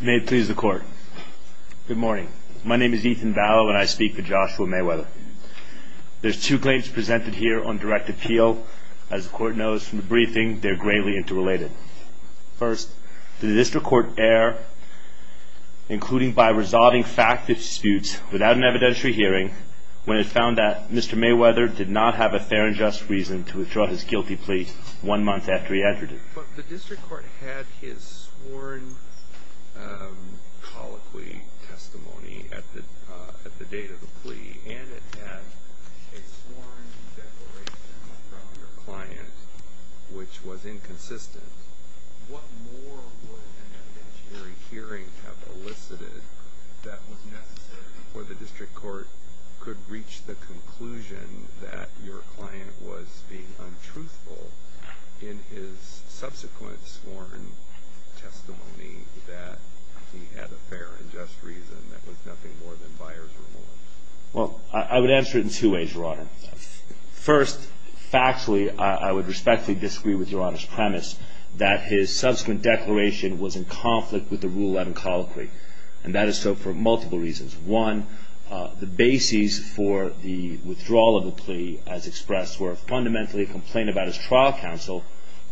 May it please the court. Good morning. My name is Ethan Vallow and I speak for Joshua Mayweather. There's two claims presented here on direct appeal. As the court knows from the briefing, they're greatly interrelated. First, the district court erred, including by resolving fact disputes without an evidentiary hearing, when it found that Mr. Mayweather did not have a fair and just reason to withdraw his guilty plea one month after he entered it. But the district court had his sworn colloquy testimony at the date of the plea, and it had a sworn declaration from your client, which was inconsistent. What more would an evidentiary hearing have elicited that was necessary before the district court could reach the conclusion that your client was being untruthful in his subsequent sworn testimony that he had a fair and just reason that was nothing more than buyer's remorse? Well, I would answer it in two ways, Your Honor. First, factually, I would respectfully disagree with Your Honor's premise that his subsequent declaration was in conflict with the Rule 11 colloquy. And that is so for multiple reasons. One, the basis for the withdrawal of the plea, as expressed, were fundamentally a complaint about his trial counsel,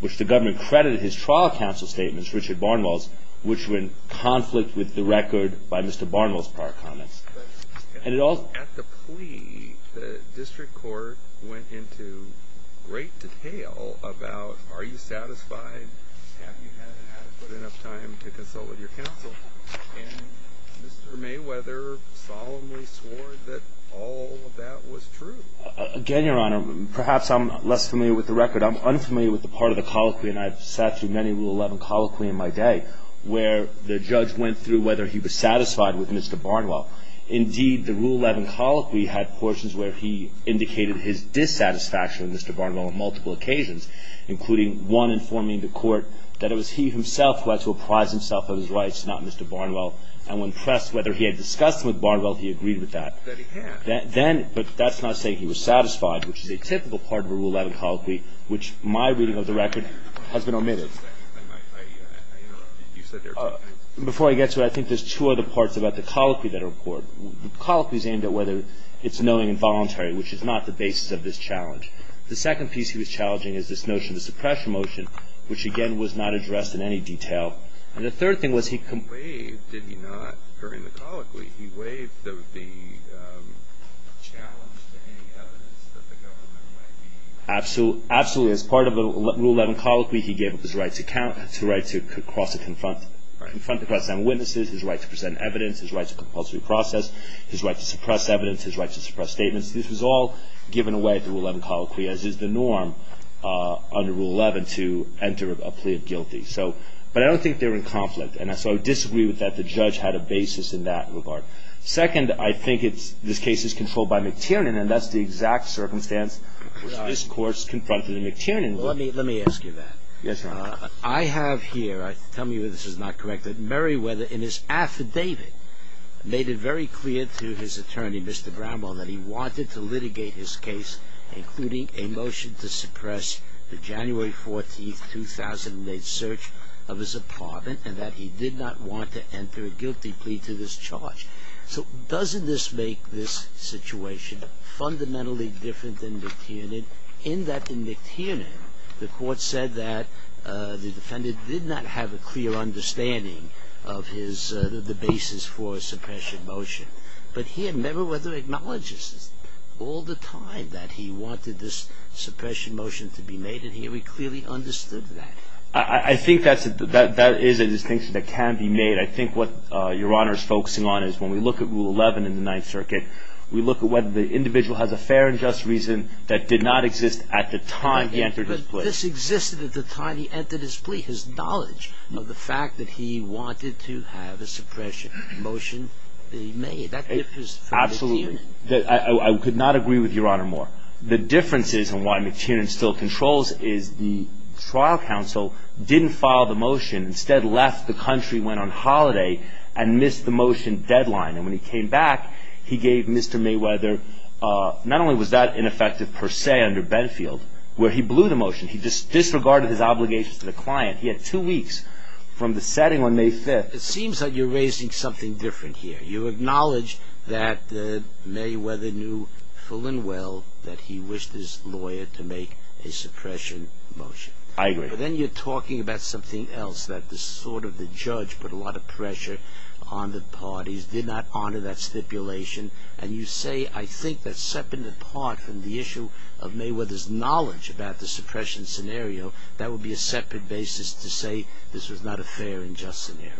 which the government credited his trial counsel statements, Richard Barnwell's, which were in conflict with the record by Mr. Barnwell's prior comments. At the plea, the district court went into great detail about, are you satisfied, have you had adequate enough time to consult with your counsel? And Mr. Mayweather solemnly swore that all of that was true. Again, Your Honor, perhaps I'm less familiar with the record. I'm unfamiliar with the part of the colloquy, and I've sat through many Rule 11 colloquy in my day, where the judge went through whether he was satisfied with Mr. Barnwell. Indeed, the Rule 11 colloquy had portions where he indicated his dissatisfaction with Mr. Barnwell on multiple occasions, including one informing the court that it was he himself who had to apprise himself of his rights, not Mr. Barnwell. And when pressed whether he had discussed with Barnwell, he agreed with that. Then, but that's not saying he was satisfied, which is a typical part of a Rule 11 colloquy, which my reading of the record has been omitted. Before I get to it, I think there's two other parts about the colloquy that are important. The colloquy is aimed at whether it's knowing and voluntary, which is not the basis of this challenge. The second piece he was challenging is this notion of the suppression motion, which, again, was not addressed in any detail. And the third thing was he – He waived, did he not, during the colloquy? He waived the challenge to any evidence that the government might need. Absolutely. As part of a Rule 11 colloquy, he gave up his right to count, his right to cross and confront – Right. Confront the press and witnesses, his right to present evidence, his right to compulsory process, his right to suppress evidence, his right to suppress statements. This was all given away at the Rule 11 colloquy, as is the norm under Rule 11 to enter a plea of guilty. So – but I don't think they were in conflict, and so I disagree with that. The judge had a basis in that regard. Second, I think it's – this case is controlled by McTiernan, and that's the exact circumstance which this Court's confronted McTiernan with. Let me – let me ask you that. Yes, Your Honor. I have here – tell me whether this is not correct – that Meriwether, in his affidavit, made it very clear to his attorney, Mr. Brownbaugh, that he wanted to litigate his case, including a motion to suppress the January 14, 2008, search of his apartment, and that he did not want to enter a guilty plea to this charge. So doesn't this make this situation fundamentally different than McTiernan, in that in McTiernan, the Court said that the defendant did not have a clear understanding of his – the basis for suppression motion. But here Meriwether acknowledges all the time that he wanted this suppression motion to be made, and here we clearly understood that. I think that's – that is a distinction that can be made. I think what Your Honor is focusing on is when we look at Rule 11 in the Ninth Circuit, we look at whether the individual has a fair and just reason that did not exist at the time he entered his plea. This existed at the time he entered his plea, his knowledge of the fact that he wanted to have a suppression motion be made. That differs from McTiernan. Absolutely. I could not agree with Your Honor more. The difference is, and why McTiernan still controls, is the trial counsel didn't file the motion, instead left the country, went on holiday, and missed the motion deadline. And when he came back, he gave Mr. Meriwether – not only was that ineffective per se under Benfield, where he blew the motion. He disregarded his obligations to the client. He had two weeks from the setting on May 5th. It seems like you're raising something different here. You acknowledge that Meriwether knew full and well that he wished his lawyer to make a suppression motion. I agree. But then you're talking about something else, that sort of the judge put a lot of pressure on the parties, did not honor that stipulation, and you say, I think that's separate in part from the issue of Meriwether's knowledge about the suppression scenario. That would be a separate basis to say this was not a fair and just scenario.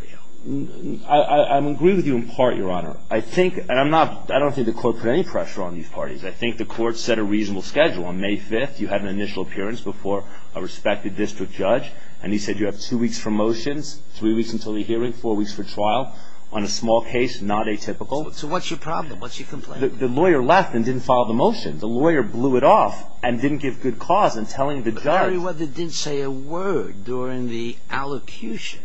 I agree with you in part, Your Honor. I think – and I'm not – I don't think the court put any pressure on these parties. I think the court set a reasonable schedule. On May 5th, you had an initial appearance before a respected district judge, and he said you have two weeks for motions, three weeks until the hearing, four weeks for trial. On a small case, not atypical. So what's your problem? What's your complaint? The lawyer left and didn't follow the motion. The lawyer blew it off and didn't give good cause in telling the judge. But Meriwether didn't say a word during the allocution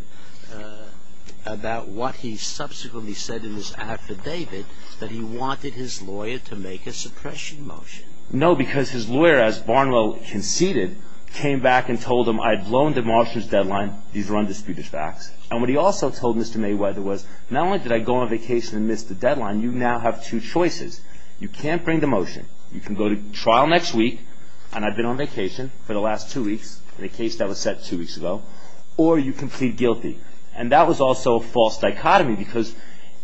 about what he subsequently said in his affidavit, that he wanted his lawyer to make a suppression motion. No, because his lawyer, as Barnwell conceded, came back and told him, I had blown the motions deadline, these were undisputed facts. And what he also told Mr. Meriwether was, not only did I go on vacation and miss the deadline, you now have two choices. You can't bring the motion. You can go to trial next week, and I've been on vacation for the last two weeks, in a case that was set two weeks ago, or you can plead guilty. And that was also a false dichotomy because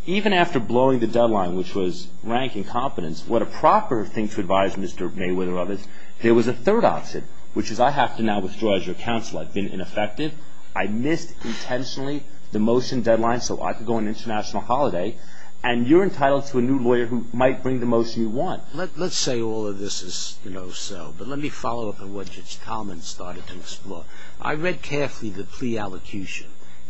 even after blowing the deadline, which was rank incompetence, what a proper thing to advise Mr. Meriwether of is, there was a third option, which is I have to now withdraw as your counsel. I've been ineffective. I missed intentionally the motion deadline so I could go on an international holiday, and you're entitled to a new lawyer who might bring the motion you want. Let's say all of this is so, but let me follow up on what Judge Talman started to explore. I read carefully the plea allocution.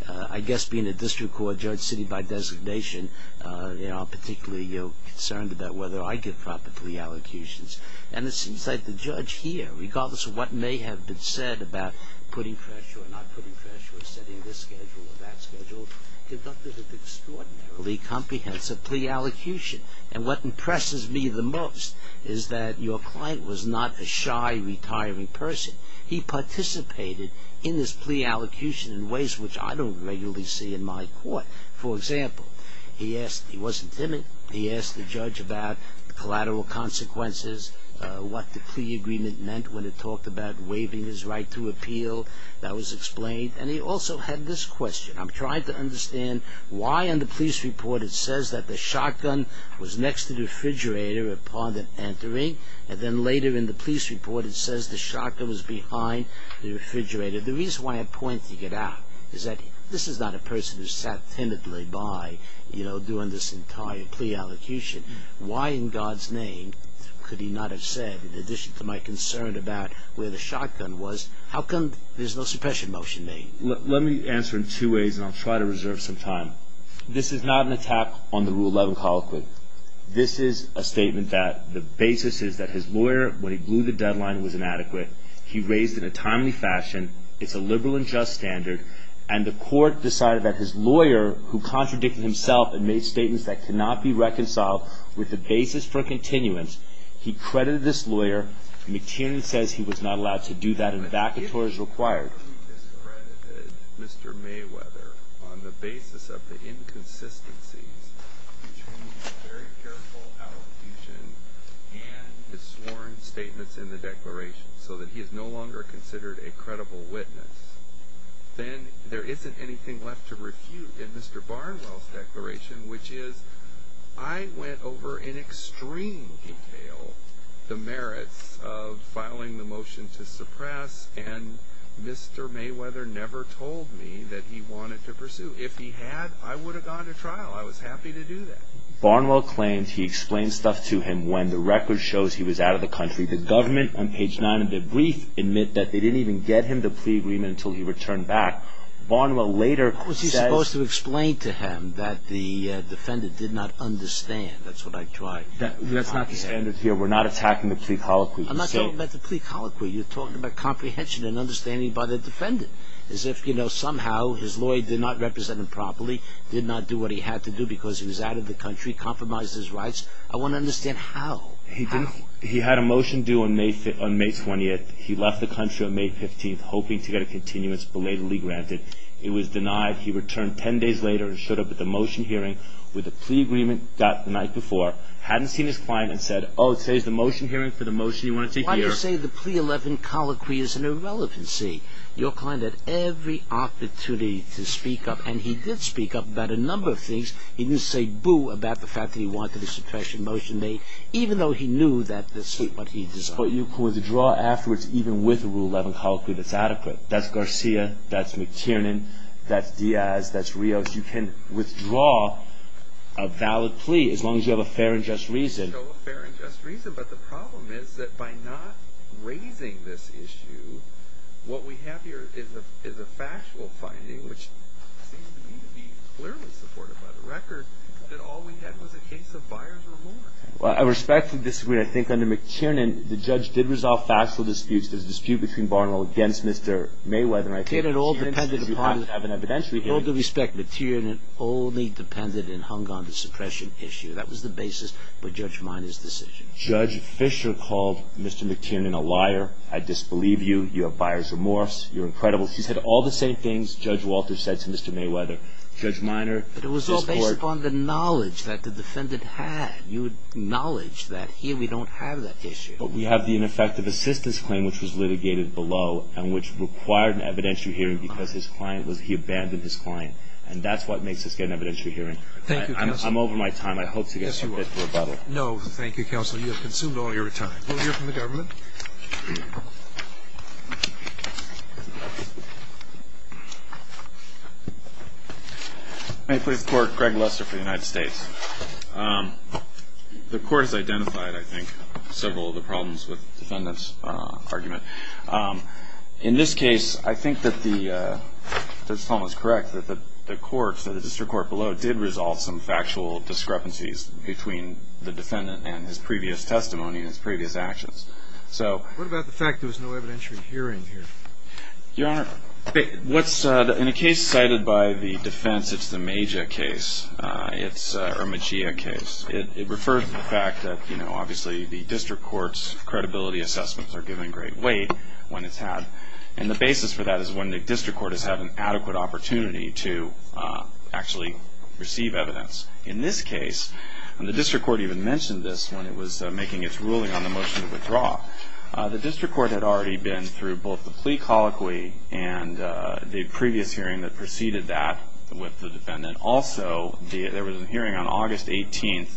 I guess being a district court judge sitting by designation, I'm particularly concerned about whether I give proper plea allocutions. And it seems like the judge here, regardless of what may have been said about putting pressure or not putting pressure or setting this schedule or that schedule, conducted an extraordinarily comprehensive plea allocution. And what impresses me the most is that your client was not a shy, retiring person. He participated in this plea allocution in ways which I don't regularly see in my court. For example, he wasn't timid. He asked the judge about the collateral consequences, what the plea agreement meant when it talked about waiving his right to appeal. That was explained. And he also had this question. I'm trying to understand why in the police report it says that the shotgun was next to the refrigerator upon entering, and then later in the police report it says the shotgun was behind the refrigerator. The reason why I'm pointing it out is that this is not a person who sat timidly by, you know, doing this entire plea allocution. Why in God's name could he not have said, in addition to my concern about where the shotgun was, how come there's no suppression motion made? Let me answer in two ways, and I'll try to reserve some time. This is not an attack on the Rule 11 colloquy. This is a statement that the basis is that his lawyer, when he blew the deadline, was inadequate. He raised it in a timely fashion. It's a liberal and just standard. And the court decided that his lawyer, who contradicted himself and made statements that could not be reconciled with the basis for continuance, he credited this lawyer. McTiernan says he was not allowed to do that and vacatories required. He discredited Mr. Mayweather on the basis of the inconsistencies between the very careful allocation and the sworn statements in the declaration so that he is no longer considered a credible witness. Then there isn't anything left to refute in Mr. Barnwell's declaration, which is I went over in extreme detail the merits of filing the motion to suppress, and Mr. Mayweather never told me that he wanted to pursue. If he had, I would have gone to trial. I was happy to do that. Barnwell claims he explained stuff to him when the record shows he was out of the country. The government on page 9 of their brief admit that they didn't even get him the plea agreement until he returned back. Barnwell later says... How was he supposed to explain to him that the defendant did not understand? That's what I tried. That's not the standard here. We're not attacking the plea colloquy. I'm not talking about the plea colloquy. You're talking about comprehension and understanding by the defendant, as if somehow his lawyer did not represent him properly, did not do what he had to do because he was out of the country, compromised his rights. I want to understand how. He had a motion due on May 20th. He left the country on May 15th hoping to get a continuance belatedly granted. It was denied. He returned 10 days later and showed up at the motion hearing with a plea agreement the night before, hadn't seen his client and said, Oh, it says the motion hearing for the motion you want to take here. Why do you say the plea 11 colloquy is an irrelevancy? Your client had every opportunity to speak up, and he did speak up about a number of things. He didn't say boo about the fact that he wanted a suppression motion made, even though he knew that this is what he deserved. But you could withdraw afterwards even with a rule 11 colloquy that's adequate. That's Garcia. That's McTiernan. That's Diaz. That's Rios. You can withdraw a valid plea as long as you have a fair and just reason. Fair and just reason, but the problem is that by not raising this issue, what we have here is a factual finding, which seems to me to be clearly supported by the record, that all we had was a case of buyer's remorse. Well, I respectfully disagree. I think under McTiernan, the judge did resolve factual disputes. There's a dispute between Barnwell against Mr. Mayweather. It all depended upon, with all due respect, McTiernan only depended and hung on the suppression issue. That was the basis for Judge Minor's decision. Judge Fisher called Mr. McTiernan a liar. I disbelieve you. You have buyer's remorse. You're incredible. She said all the same things Judge Walter said to Mr. Mayweather. But it was all based upon the knowledge that the defendant had. You acknowledge that here we don't have that issue. But we have the ineffective assistance claim, which was litigated below, and which required an evidentiary hearing because he abandoned his client. And that's what makes this get an evidentiary hearing. Thank you, Counselor. I'm over my time. I hope to get some fit for rebuttal. No, thank you, Counselor. You have consumed all your time. We'll hear from the government. May it please the Court. Greg Lester for the United States. The Court has identified, I think, several of the problems with the defendant's argument. In this case, I think that the – if I was correct, that the courts, the district court below, did resolve some factual discrepancies between the defendant and his previous testimony and his previous actions. So – What about the fact there was no evidentiary hearing here? Your Honor, what's – in a case cited by the defense, it's the Magia case. It's a – or Magia case. It refers to the fact that, you know, obviously the district court's credibility assessments are given great weight when it's had. And the basis for that is when the district court has had an adequate opportunity to actually receive evidence. In this case, the district court even mentioned this when it was making its ruling on the motion to withdraw. The district court had already been through both the plea colloquy and the previous hearing that preceded that with the defendant. Also, there was a hearing on August 18th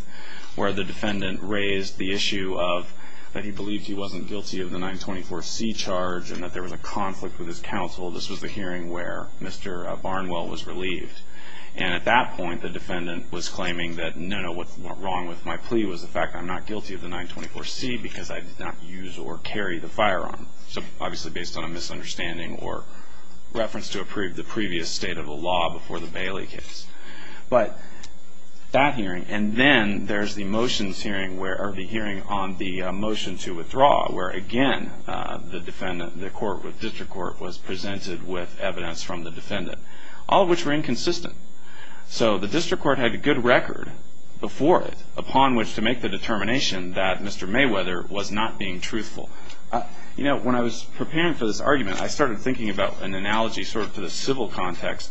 where the defendant raised the issue of – that he believed he wasn't guilty of the 924C charge and that there was a conflict with his counsel. This was the hearing where Mr. Barnwell was relieved. And at that point, the defendant was claiming that, no, no, what's wrong with my plea was the fact I'm not guilty of the 924C because I did not use or carry the firearm. So obviously based on a misunderstanding or reference to approve the previous state of the law before the Bailey case. But that hearing – and then there's the motions hearing where – or the hearing on the motion to withdraw where, again, the defendant – the court with district court was presented with evidence from the defendant, all of which were inconsistent. So the district court had a good record before it upon which to make the You know, when I was preparing for this argument, I started thinking about an analogy sort of to the civil context.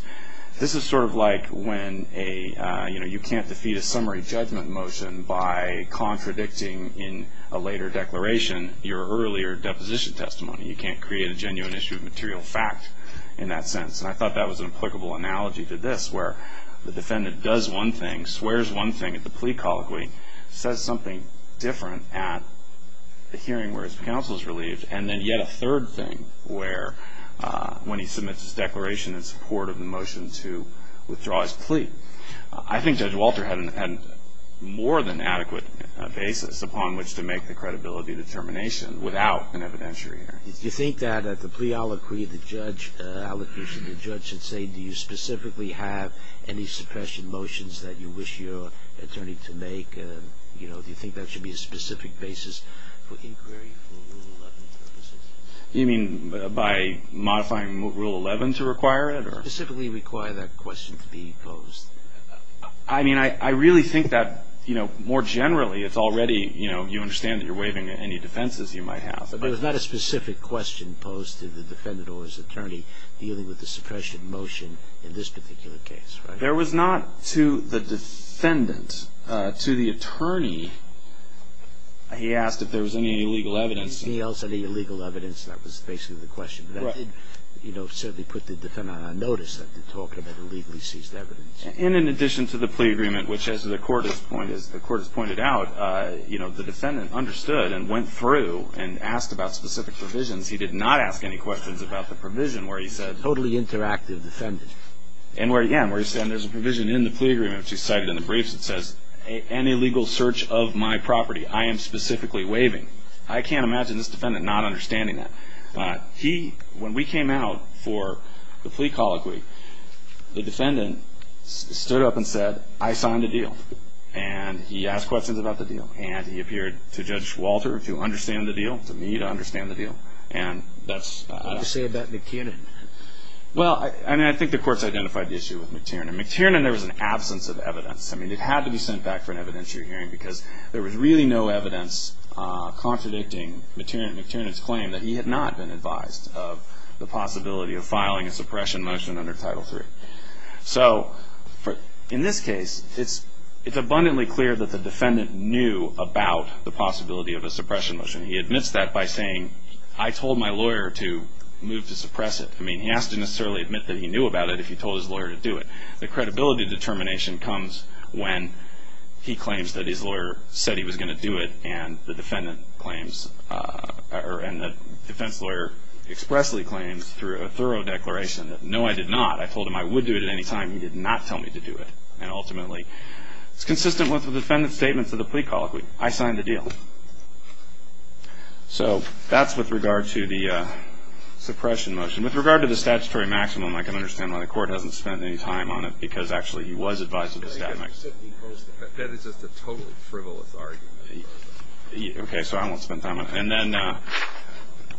This is sort of like when a – you know, you can't defeat a summary judgment motion by contradicting in a later declaration your earlier deposition testimony. You can't create a genuine issue of material fact in that sentence. And I thought that was an applicable analogy to this where the defendant does one thing, swears one thing at the plea colloquy, says something different at the hearing where his counsel is relieved, and then yet a third thing where when he submits his declaration in support of the motion to withdraw his plea. I think Judge Walter had more than adequate basis upon which to make the credibility determination without an evidentiary hearing. Do you think that at the plea colloquy the judge – the judge should say do you specifically have any suppression motions that you Do you think that should be a specific basis for inquiry for Rule 11 purposes? You mean by modifying Rule 11 to require it? Specifically require that question to be posed. I mean, I really think that, you know, more generally it's already, you know, you understand that you're waiving any defenses you might have. But there was not a specific question posed to the defendant or his attorney dealing with the suppression motion in this particular case, right? There was not to the defendant, to the attorney, he asked if there was any illegal evidence. He asked if there was any illegal evidence. That was basically the question. But that did, you know, certainly put the defendant on notice that they're talking about illegally seized evidence. And in addition to the plea agreement, which as the court has pointed out, you know, the defendant understood and went through and asked about specific provisions. He did not ask any questions about the provision where he said – Totally interactive defendant. And where, yeah, where he said there's a provision in the plea agreement, which he cited in the briefs, it says, any illegal search of my property I am specifically waiving. I can't imagine this defendant not understanding that. He, when we came out for the plea colloquy, the defendant stood up and said, I signed a deal. And he asked questions about the deal. And he appeared to Judge Walter to understand the deal, to me to understand the deal. And that's – What did he say about McKinnon? Well, I mean, I think the courts identified the issue with McKinnon. McKinnon, there was an absence of evidence. I mean, it had to be sent back for an evidentiary hearing because there was really no evidence contradicting McKinnon's claim that he had not been advised of the possibility of filing a suppression motion under Title III. So in this case, it's abundantly clear that the defendant knew about the possibility of a suppression motion. He admits that by saying, I told my lawyer to move to suppress it. I mean, he has to necessarily admit that he knew about it if he told his lawyer to do it. The credibility determination comes when he claims that his lawyer said he was going to do it and the defendant claims – and the defense lawyer expressly claims through a thorough declaration that, no, I did not. I told him I would do it at any time. He did not tell me to do it. And ultimately, it's consistent with the defendant's statements of the plea colloquy. I signed the deal. So that's with regard to the suppression motion. With regard to the statutory maximum, I can understand why the Court hasn't spent any time on it because actually he was advised of the statutory maximum. That is just a totally frivolous argument. Okay, so I won't spend time on it. And then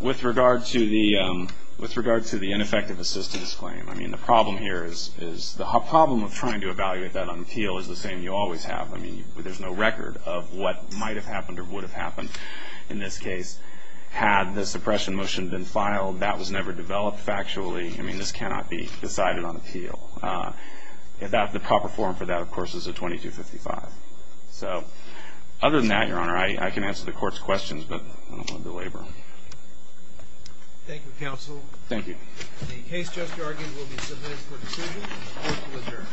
with regard to the ineffective assistance claim, I mean, the problem here is the problem of trying to evaluate that on appeal is the same you always have. I mean, there's no record of what might have happened or would have happened. In this case, had the suppression motion been filed, that was never developed factually. I mean, this cannot be decided on appeal. The proper form for that, of course, is a 2255. So other than that, Your Honor, I can answer the Court's questions, but I don't want to delabor. Thank you, Counsel. Thank you. The case just argued will be submitted for decision. Court will adjourn. All rise.